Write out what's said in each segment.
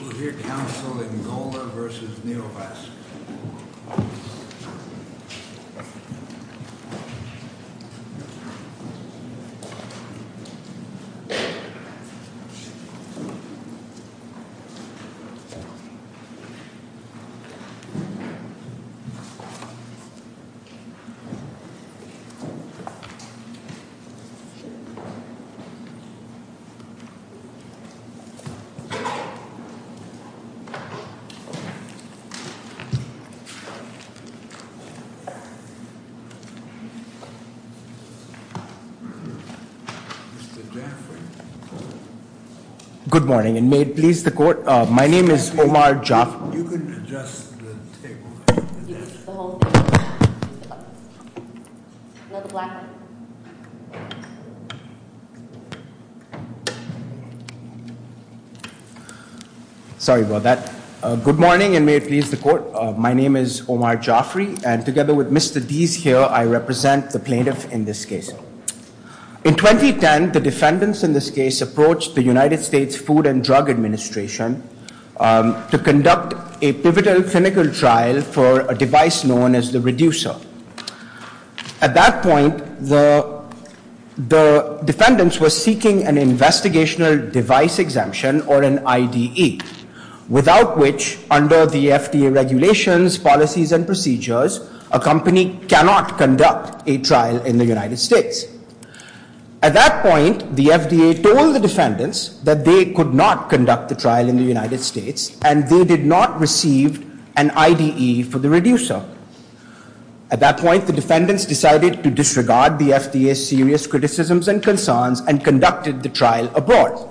We'll hear counsel in Golda versus Neovaskis. Mr. Jaffray. Good morning and may it please the court, my name is Omar Jaffray. You can adjust the table. Another black one. Sorry about that. Good morning and may it please the court, my name is Omar Jaffray. And together with Mr. Deese here, I represent the plaintiff in this case. In 2010, the defendants in this case approached the United States Food and Drug Administration to conduct a pivotal clinical trial for a device known as the reducer. At that point, the defendants were seeking an investigational device exemption or an IDE, without which, under the FDA regulations, policies, and procedures, a company cannot conduct a trial in the United States. At that point, the FDA told the defendants that they could not conduct the trial in the United States and they did not receive an IDE for the trial. At that point, the defendants decided to disregard the FDA's serious criticisms and concerns and conducted the trial abroad.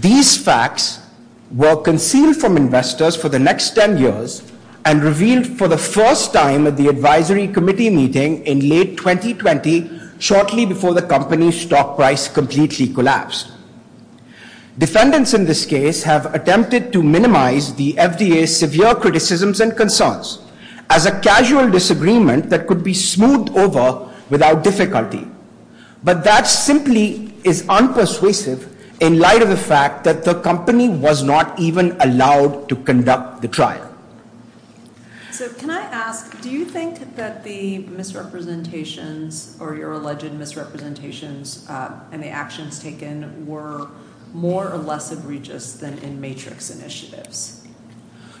These facts were concealed from investors for the next 10 years and revealed for the first time at the advisory committee meeting in late 2020, shortly before the company's stock price completely collapsed. Defendants in this case have attempted to minimize the FDA's severe criticisms and disagreement that could be smoothed over without difficulty. But that simply is unpersuasive in light of the fact that the company was not even allowed to conduct the trial. So, can I ask, do you think that the misrepresentations or your alleged misrepresentations and the actions taken were more or less egregious than in Matrix initiatives?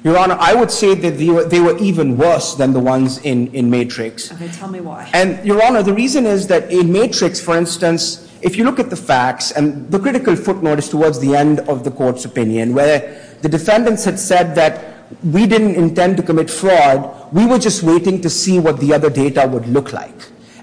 Your Honor, I would say that they were even worse than the ones in Matrix. Okay, tell me why. Your Honor, the reason is that in Matrix, for instance, if you look at the facts and the critical footnote is towards the end of the court's opinion where the defendants had said that we didn't intend to commit fraud, we were just waiting to see what the other data would look like.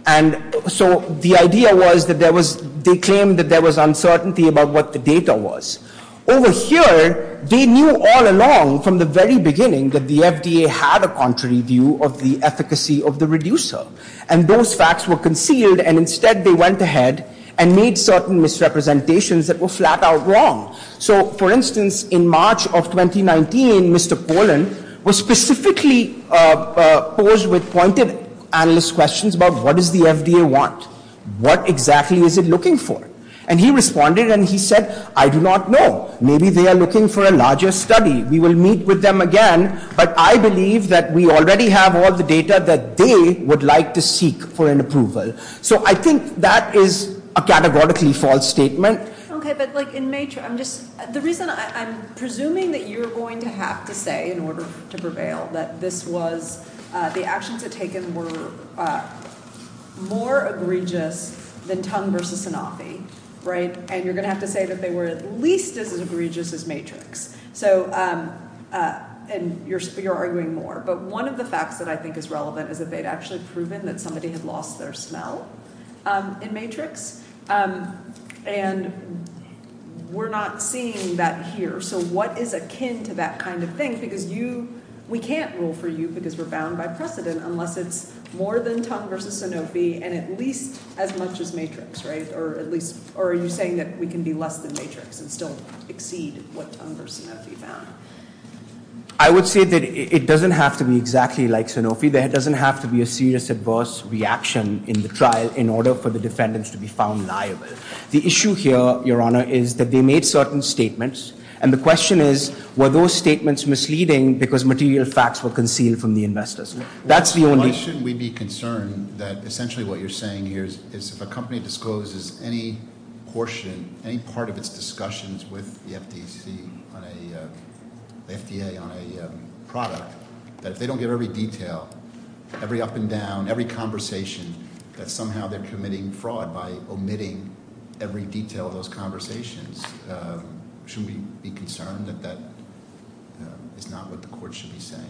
And so the idea was that there was, they claimed that there was uncertainty about what the data was. Over here, they knew all along from the very beginning that the FDA had a contrary view of the efficacy of the reducer. And those facts were concealed and instead they went ahead and made certain misrepresentations that were flat out wrong. So, for instance, in March of 2019, Mr. Pollan was specifically posed with pointed analyst questions about what does the FDA want? What exactly is it looking for? And he responded and he said, I do not know. Maybe they are looking for a larger study. We will meet with them again, but I believe that we already have all the data that they would like to seek for an approval. So I think that is a categorically false statement. Okay, but like in Matrix, I'm just, the reason, I'm presuming that you're going to have to say in order to prevail that this was, the actions were taken were more egregious than Tung versus Sanofi, right? And you're going to have to say that they were at least as egregious as Matrix. And you're arguing more. But one of the facts that I think is relevant is that they had actually proven that somebody had lost their smell in Matrix. And we're not seeing that here. So what is akin to that kind of thing? Because you, we can't rule for you because we're bound by precedent unless it's more than Tung versus Sanofi and at least as much as Matrix, right? Or at least, or are you saying that we can be less than Matrix and still exceed what Tung versus Sanofi found? I would say that it doesn't have to be exactly like Sanofi. There doesn't have to be a serious adverse reaction in the trial in order for the defendants to be found liable. The issue here, Your Honor, is that they made certain statements. And the question is, were those statements misleading because material facts were concealed from the investors? Why shouldn't we be concerned that essentially what you're saying here is if a company discloses any portion, any part of its discussions with the FDA on a product, that if they don't give every detail, every up and down, every conversation, that somehow they're committing fraud by omitting every detail of those conversations, shouldn't we be concerned that that is not what the court should be saying?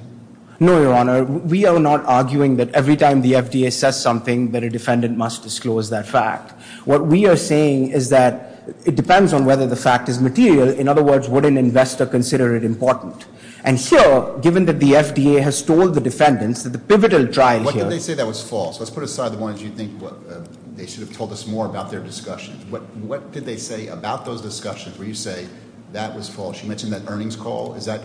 No, Your Honor. We are not arguing that every time the FDA says something that a defendant must disclose that fact. What we are saying is that it depends on whether the fact is material. In other words, would an investor consider it important? And here, given that the FDA has told the defendants that the pivotal trial here... What did they say that was false? Let's put aside the ones you think they should have told us more about their discussions. What did they say about those discussions where you say that was false? You mentioned that earnings call. Is that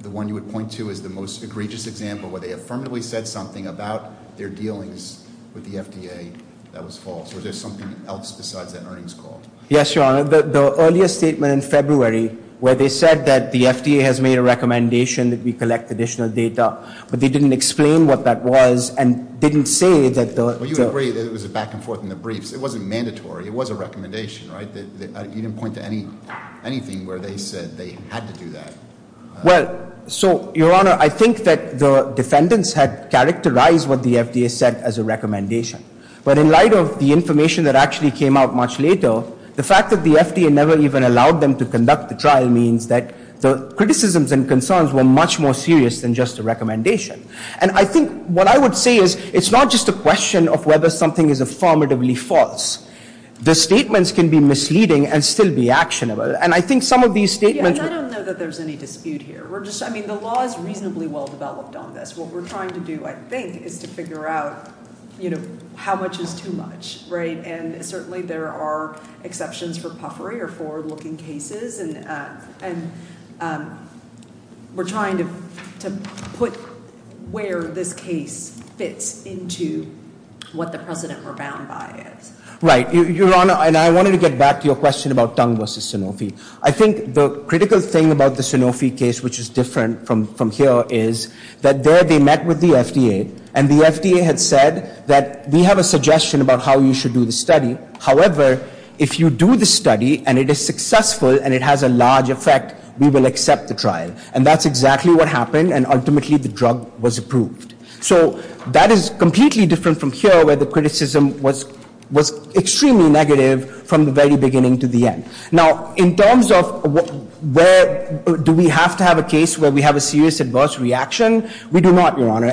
the one you would point to as the most egregious example where they affirmatively said something about their dealings with the FDA that was false? Or is there something else besides that earnings call? Yes, Your Honor. The earlier statement in February where they said that the FDA has made a recommendation that we collect additional data, but they didn't explain what that was and didn't say that the... Well, you agree that it was a back and forth in the briefs. It wasn't mandatory. It was a recommendation, right? You didn't point to anything where they said they had to do that. Well, so Your Honor, I think that the defendants had characterized what the FDA said as a recommendation. But in light of the information that actually came out much later, the fact that the FDA never even allowed them to conduct the trial means that the criticisms and concerns were much more serious than just a recommendation. And I think what I would say is it's not just a question of whether something is affirmatively false. The statements can be misleading and still be actionable. And I think some of these statements... Yeah, and I don't know that there's any reasonable well-developed on this. What we're trying to do, I think, is to figure out how much is too much, right? And certainly there are exceptions for puffery or forward-looking cases and we're trying to put where this case fits into what the precedent rebound by is. Right. Your Honor, and I wanted to get back to your question about Tung v. Sanofi. I think the critical thing about the Sanofi case, which is different from here, is that there they met with the FDA and the FDA had said that we have a suggestion about how you should do the study. However, if you do the study and it is successful and it has a large effect, we will accept the trial. And that's exactly what happened and ultimately the drug was approved. So that is completely different from here where the criticism was extremely negative from the very beginning to the end. Now, in terms of do we have to have a case where we have a serious adverse reaction? We do not, Your Honor.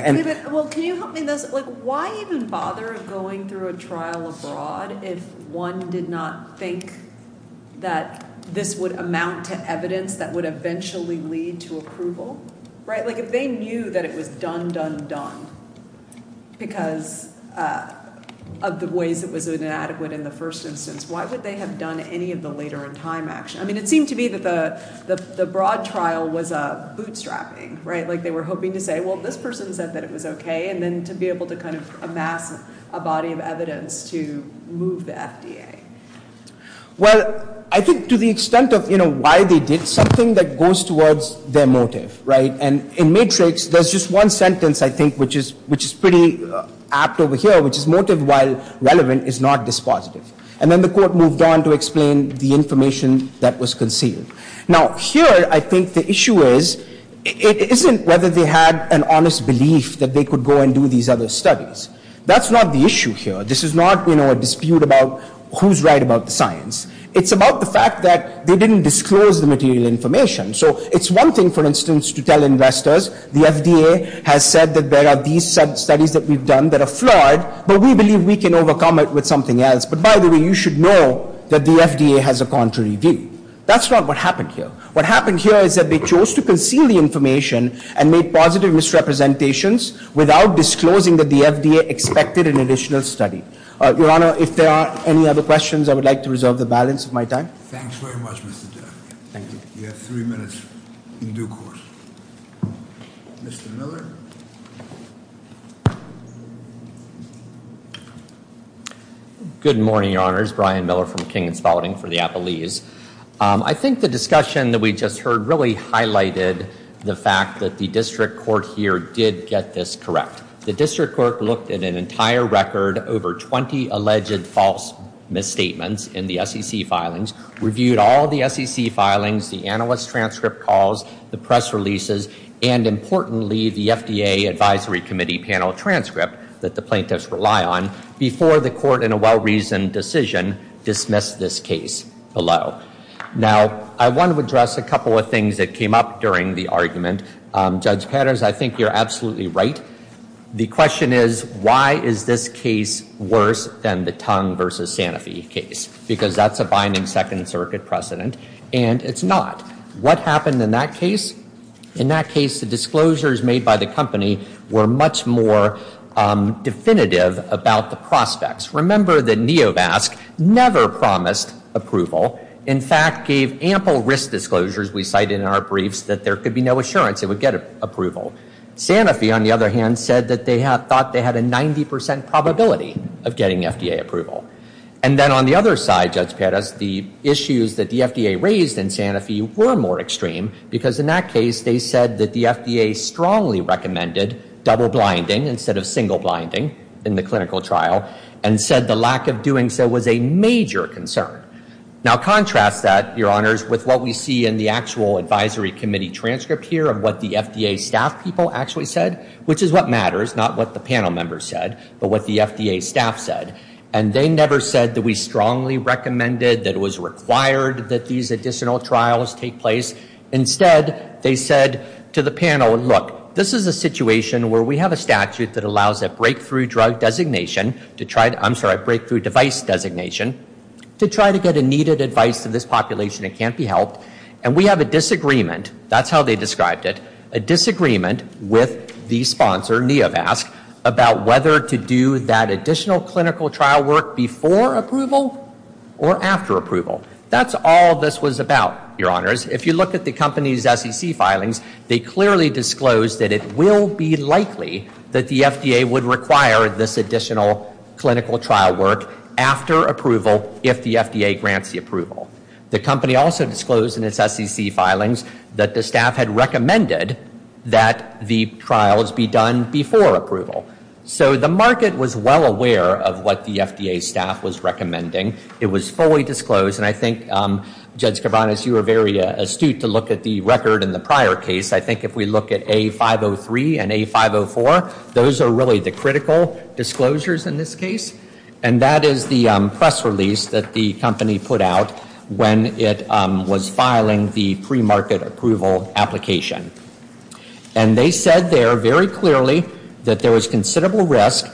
Well, can you help me with this? Why even bother going through a trial abroad if one did not think that this would amount to evidence that would eventually lead to approval? Right? Like if they knew that it was done, done, done because of the ways it was inadequate in the first instance, why would they have done any of the later in time action? I mean, it seemed to me that the broad trial was bootstrapping, right? Like they were hoping to say, well, this person said that it was okay and then to be able to kind of amass a body of evidence to move the FDA. Well, I think to the extent of why they did, something that goes towards their motive, right? And in Matrix, there's just one sentence, I think, which is pretty apt over here, which is motive while relevant is not dispositive. And then the court moved on to explain the information that was concealed. Now, here, I think the issue is, it isn't whether they had an honest belief that they could go and do these other studies. That's not the issue here. This is not, you know, a dispute about who's right about the science. It's about the fact that they didn't disclose the material information. So, it's one thing, for instance, to tell investors, the FDA has said that there are these studies that we've done that are flawed, but we believe we can overcome it with something else. But, by the way, you should know that the FDA has a contrary view. That's not what happened here. What happened here is that they chose to conceal the information and made positive misrepresentations without disclosing that the FDA expected an additional study. Your Honor, if there are any other questions, I would like to reserve the balance of my time. Thanks very much, Mr. Jack. You have three minutes in due course. Mr. Miller? Good morning, Your Honor. It's Brian Miller from King & Spalding for the Appalese. I think the discussion that we just heard really highlighted the fact that the district court here did get this correct. The district court looked at an entire record, over 20 alleged false misstatements in the SEC filings, reviewed all the SEC filings, the analyst transcript calls, the press releases, and, importantly, the FDA Advisory Committee panel transcript that the plaintiffs rely on, before the court, in a well-reasoned decision, dismissed this case below. Now, I want to address a couple of things that came up during the argument. Judge Patters, I think you're absolutely right. The question is, why is this case worse than the Tongue v. Sanofi case? Because that's a binding Second Circuit precedent, and it's not. What happened in that case? In that case, the disclosures made by the company were much more definitive about the prospects. Remember that Neovasc never promised approval. In fact, gave ample risk disclosures, we cited in our briefs, that there could be no assurance it would get approval. Sanofi, on the other hand, said that they thought they had a 90% probability of getting FDA approval. And then, on the other side, Judge Patters, the issues that the FDA raised in Sanofi were more extreme, because in that case, they said that the FDA strongly recommended double-blinding instead of single-blinding in the clinical trial, and said the lack of doing so was a major concern. Now, contrast that, Your Honors, with what we see in the actual Advisory Committee transcript here of what the FDA staff people actually said, which is what matters, not what the panel members said, but what the FDA staff said. And they never said that we strongly recommended that it was required that these additional trials take place. Instead, they said to the panel, look, this is a situation where we have a statute that allows a breakthrough drug designation, I'm sorry, a breakthrough device designation, to try to get a needed advice to this population that can't be helped. And we have a disagreement, that's how they described it, a disagreement with the sponsor, Neovasc, about whether to do that additional clinical trial work before approval or after approval. That's all this was about, Your Honors. If you look at the company's SEC filings, they clearly disclosed that it will be likely that the FDA would require this additional clinical trial work after approval if the FDA grants the approval. The company also disclosed in its SEC filings that the staff had recommended that the trials be done before approval. So the market was well aware of what the FDA staff was recommending. It was fully disclosed. And I think, Judge Cabanas, you were very astute to look at the record in the prior case. I think if we look at A503 and A504, those are really the critical disclosures in this case. And that is the press release that the company put out when it was filing the pre-market approval application. And they said there very clearly that there was no reason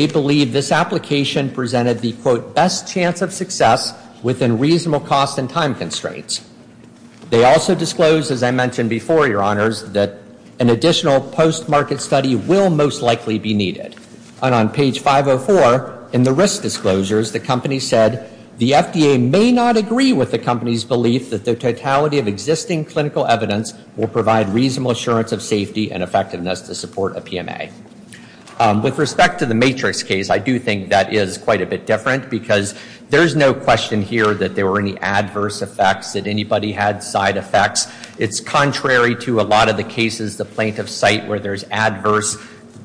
to believe this application presented the quote, best chance of success within reasonable cost and time constraints. They also disclosed, as I mentioned before, Your Honors, that an additional post-market study will most likely be needed. And on page 504, in the risk disclosures, the company said the FDA may not agree with the company's belief that the totality of existing clinical evidence will provide reasonable assurance of safety and I do think that is quite a bit different because there's no question here that there were any adverse effects, that anybody had side effects. It's contrary to a lot of the cases the plaintiffs cite where there's adverse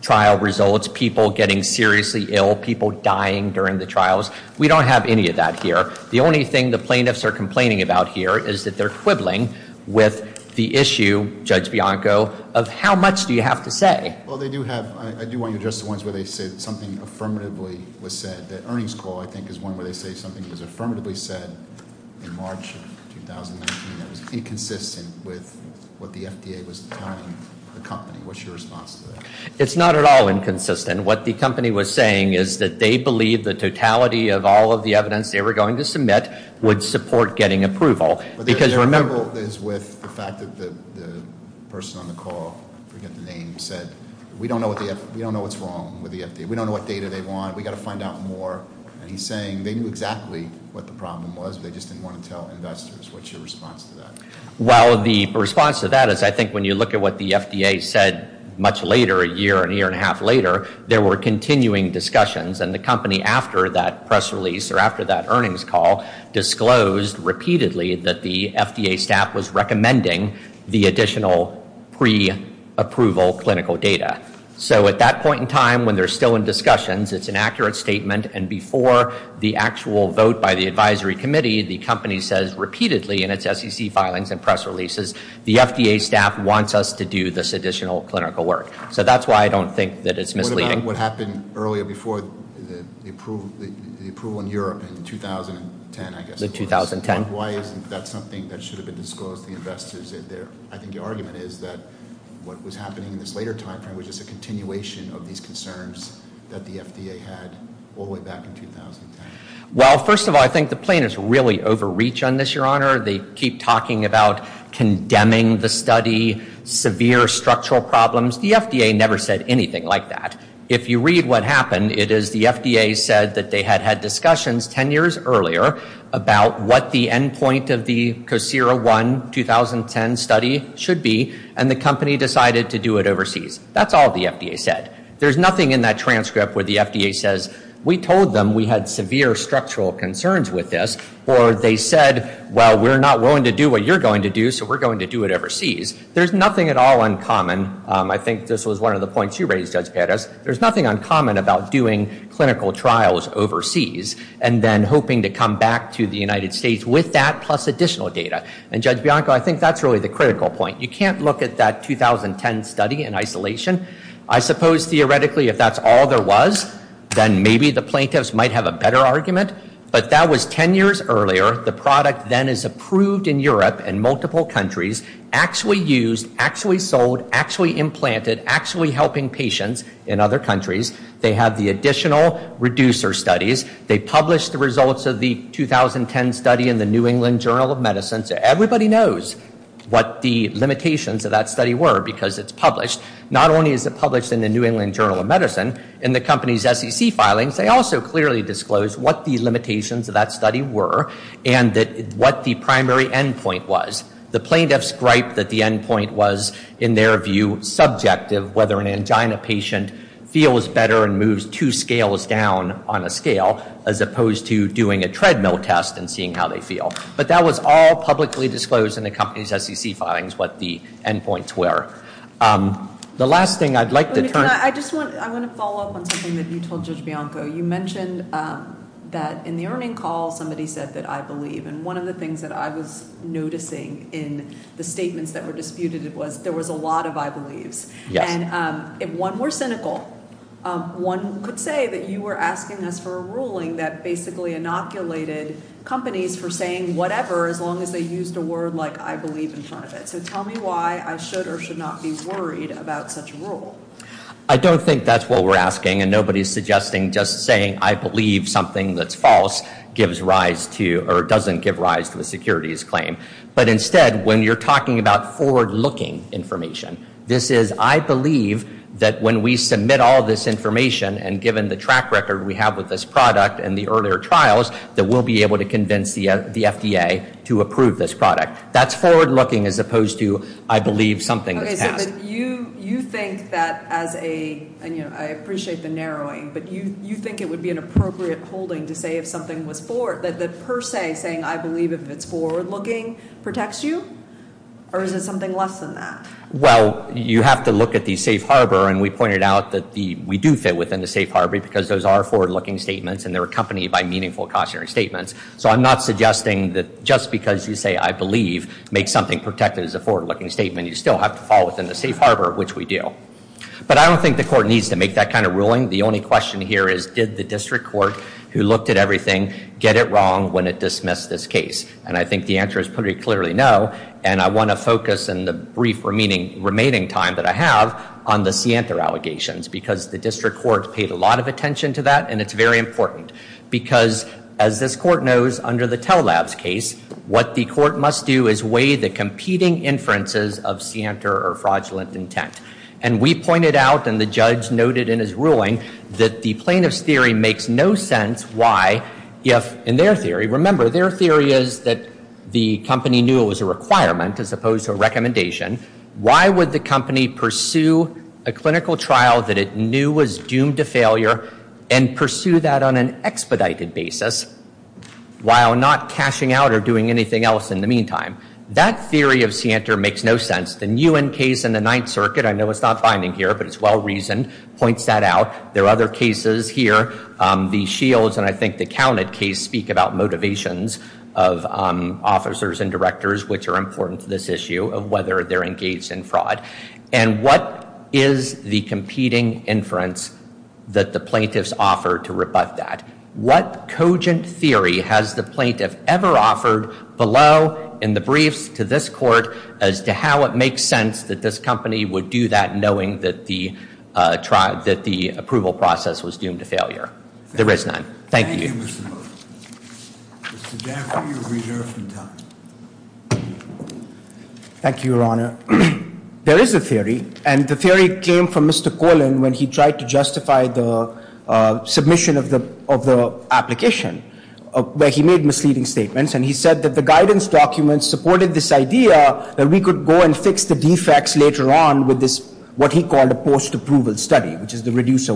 trial results, people getting seriously ill, people dying during the trials. We don't have any of that here. The only thing the plaintiffs are complaining about here is that they're quibbling with the issue, Judge Bianco, of how much do you have to say? Well, I do want you to address the ones where they say something affirmatively was said. The earnings call, I think, is one where they say something was affirmatively said in March of 2019 that was inconsistent with what the FDA was telling the company. What's your response to that? It's not at all inconsistent. What the company was saying is that they believe the totality of all of the evidence they were going to submit would support getting approval. Because remember- We don't know what's wrong with the FDA. We don't know what data they want. We've got to find out more. And he's saying they knew exactly what the problem was, they just didn't want to tell investors. What's your response to that? Well, the response to that is, I think, when you look at what the FDA said much later, a year and a year and a half later, there were continuing discussions. And the company, after that press release, or after that earnings call, disclosed repeatedly that the FDA staff was recommending the additional pre-approval clinical data. So at that point in time, when they're still in discussions, it's an accurate statement, and before the actual vote by the advisory committee, the company says repeatedly in its SEC filings and press releases, the FDA staff wants us to do this additional clinical work. So that's why I don't think that it's misleading. What about what happened earlier before the approval in Europe in 2010, I guess it was? The 2010? Why isn't that something that should have been disclosed to investors there? I think your argument is that what was happening in this later time frame was just a continuation of these concerns that the FDA had all the way back in 2010. Well, first of all, I think the plaintiffs really overreach on this, Your Honor. They keep talking about condemning the study, severe structural problems. The FDA never said anything like that. If you read what happened, it is the FDA said that they had had discussions 10 years earlier about what the end point of the COSERA-1 2010 study should be, and the company decided to do it overseas. That's all the FDA said. There's nothing in that transcript where the FDA says, we told them we had severe structural concerns with this, or they said, well, we're not willing to do what you're going to do, so we're going to do it overseas. There's nothing at all uncommon I think this was one of the points you raised, Judge Perez, there's nothing uncommon about doing clinical trials overseas, and then hoping to come back to the United States with that, plus additional data. And Judge Bianco, I think that's really the critical point. You can't look at that 2010 study in isolation. I suppose, theoretically, if that's all there was, then maybe the plaintiffs might have a better argument, but that was 10 years earlier. The product then is approved in Europe in multiple countries, actually used, actually sold, actually implanted, actually helping patients in other countries. They have the additional reducer studies. They published the results of the 2010 study in the New England Journal of Medicine, so everybody knows what the limitations of that study were, because it's published. Not only is it published in the New England Journal of Medicine, in the company's SEC filings, they also clearly disclosed what the limitations of that study were, and what the primary end point was. The plaintiffs griped that the end point was, in their view, subjective, whether an angina patient feels better and moves two scales down on a scale, as opposed to doing a treadmill test and seeing how they feel. But that was all publicly disclosed in the company's SEC filings, what the end points were. The last thing I'd like to turn... I just want to follow up on something that you told Judge Bianco. You mentioned that in the earning call, somebody said that I believe, and one of the things that I was noticing in the statements that were disputed was, there was a lot of I believes. Yes. And one was cynical. One could say that you were asking us for a ruling that basically inoculated companies for saying whatever as long as they used a word like I believe in front of it. So tell me why I should or should not be worried about such a rule. I don't think that's what we're asking, and nobody's suggesting just saying I believe something that's false gives rise to, or doesn't give rise to, a securities claim. But instead, when you're talking about forward-looking information, this is I believe that when we submit all this information and given the track record we have with this product and the earlier trials, that we'll be able to convince the FDA to approve this product. That's forward-looking as opposed to I believe something that's passed. You think that as a... I appreciate the narrowing, but you think it would be an appropriate holding to say if something was forward, that per se saying I believe if it's forward-looking protects you? Or is it something less than that? Well, you have to look at the safe harbor, and we pointed out that we do fit within the safe harbor because those are forward-looking statements, and they're accompanied by meaningful cautionary statements. So I'm not suggesting that just because you say I believe makes something protected as a forward-looking statement, you still have to fall within the safe harbor, which we do. But I don't think the court needs to make that kind of ruling. The only question here is did the district court who looked at everything get it wrong when it dismissed this case? And I think the answer is pretty clearly no, and I want to focus in the brief remaining time that I have on the Siantar allegations, because the district court paid a lot of attention to that, and it's very important. Because as this court knows, under the Tell Labs case, what the court must do is weigh the competing inferences of Siantar or fraudulent intent. And we pointed out, and the judge noted in his ruling, that the plaintiff's theory makes no sense why if in their theory, remember their theory is that the company knew it was a requirement as opposed to a recommendation, why would the company pursue a clinical trial that it knew was doomed to failure and pursue that on an expedited basis while not cashing out or doing anything else in the meantime? That theory of Siantar makes no sense. The Nguyen case in the Ninth Circuit, I know it's not binding here, but it's well-reasoned, points that out. There are other cases here. The Counted case speak about motivations of officers and directors, which are important to this issue, of whether they're engaged in fraud. And what is the competing inference that the plaintiffs offer to rebut that? What cogent theory has the plaintiff ever offered below in the briefs to this court as to how it makes sense that this company would do that knowing that the approval process was doomed to failure? There is none. Thank you. Thank you, Your Honor. There is a theory, and the theory came from Mr. Colin when he tried to justify the submission of the application, where he made misleading statements, and he said that the guidance documents supported this idea that we could go and fix the defects later on with this, what he called a post-approval study, which is the guidance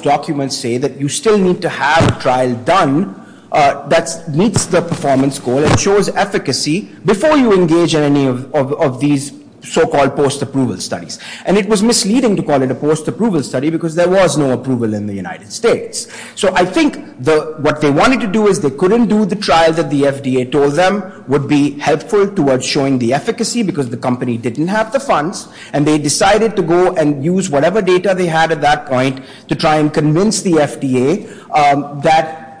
documents say that you still need to have a trial done that meets the performance goal and shows efficacy before you engage in any of these so-called post-approval studies. And it was misleading to call it a post-approval study because there was no approval in the United States. So I think what they wanted to do is they couldn't do the trial that the FDA told them would be helpful towards showing the efficacy because the company didn't have the funds, and they had at that point to try and convince the FDA that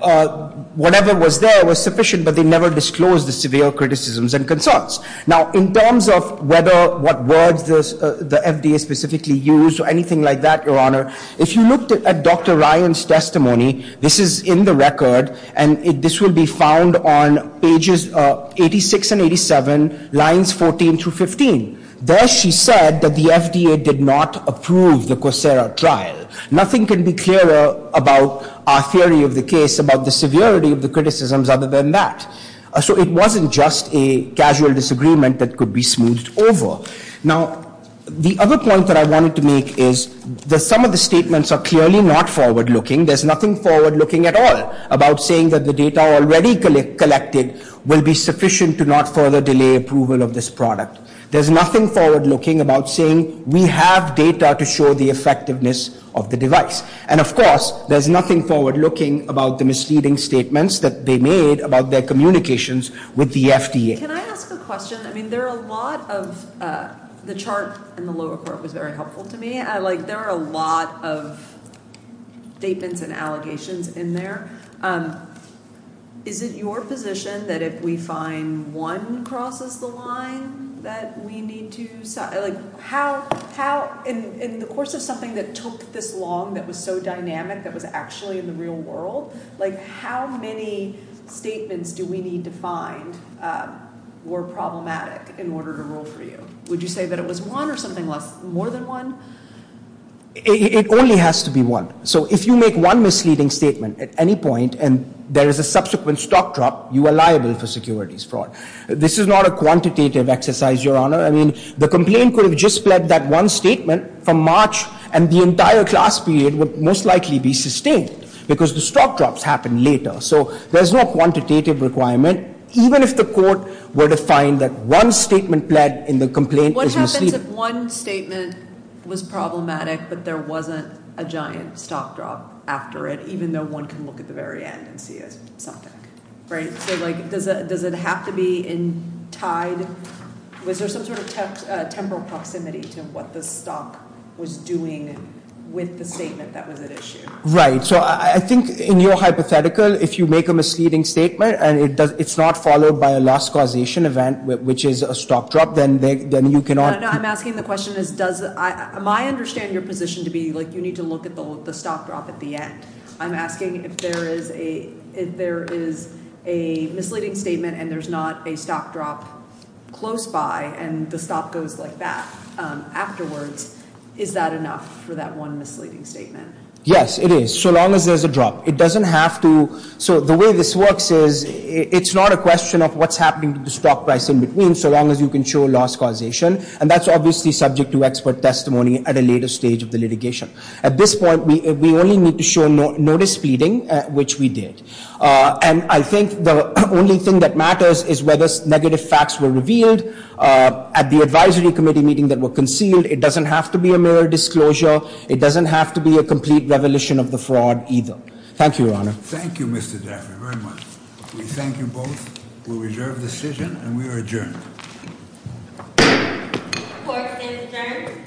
whatever was there was sufficient, but they never disclosed the severe criticisms and concerns. Now, in terms of whether what words the FDA specifically used or anything like that, Your Honor, if you looked at Dr. Ryan's testimony, this is in the record, and this will be found on pages 86 and 87, lines 14 through 15. There she said that the FDA did not approve the Coursera trial. Nothing can be clearer about our theory of the case about the severity of the criticisms other than that. So it wasn't just a casual disagreement that could be smoothed over. Now, the other point that I wanted to make is that some of the statements are clearly not forward-looking. There's nothing forward-looking at all about saying that the data already collected will be sufficient to not further delay approval of this product. There's nothing forward-looking about saying we have data to show the effectiveness of the device. And, of course, there's nothing forward-looking about the misleading statements that they made about their communications with the FDA. Can I ask a question? I mean, there are a lot of... the chart in the lower court was very helpful to me. There are a lot of statements and allegations in there. Is it your position that if we find one crosses the line that we need to... like how in the course of something that took this long that was so dynamic that was actually in the real world, like how many statements do we need to find were problematic in order to rule for you? Would you say that it was one or something more than one? It only has to be one. So if you make one misleading statement at any point and there is a subsequent stock drop, you are liable for securities fraud. This is not a quantitative exercise, Your Honor. I mean, the complaint could have just pled that one statement from March and the entire class period would most likely be sustained because the stock drops happen later. So there's no quantitative requirement, even if the court were to find that one statement pled in the complaint is misleading. What happens if one statement was problematic but there wasn't a giant stock drop after it, even though one can look at the very end and see it's something? Right. So does it have to be in tied... Was there some sort of temporal proximity to what the stock was doing with the statement that was at issue? Right. So I think in your hypothetical, if you make a misleading statement and it's not followed by a loss causation event, which is a stock drop, then you cannot... No, no. I'm asking the question is does... I understand your position to be like you need to look at the stock drop at the end. I'm asking if there is a misleading statement and there's not a stock drop close by and the stock goes like that afterwards. Is that enough for that one misleading statement? Yes, it is. So long as there's a drop. It doesn't have to... So the way this works is it's not a question of what's happening to the stock price in between, so long as you can show loss causation. And that's obviously subject to expert testimony at a later stage of the litigation. At this point, we only need to show notice feeding, which we did. And I think the only thing that matters is whether negative facts were revealed at the advisory committee meeting that were concealed. It doesn't have to be a mirror disclosure. It doesn't have to be a complete revelation of the fraud either. Thank you, Your Honor. Thank you, Mr. Daffrey, very much. We thank you both. We reserve the decision and we are adjourned. Court is adjourned.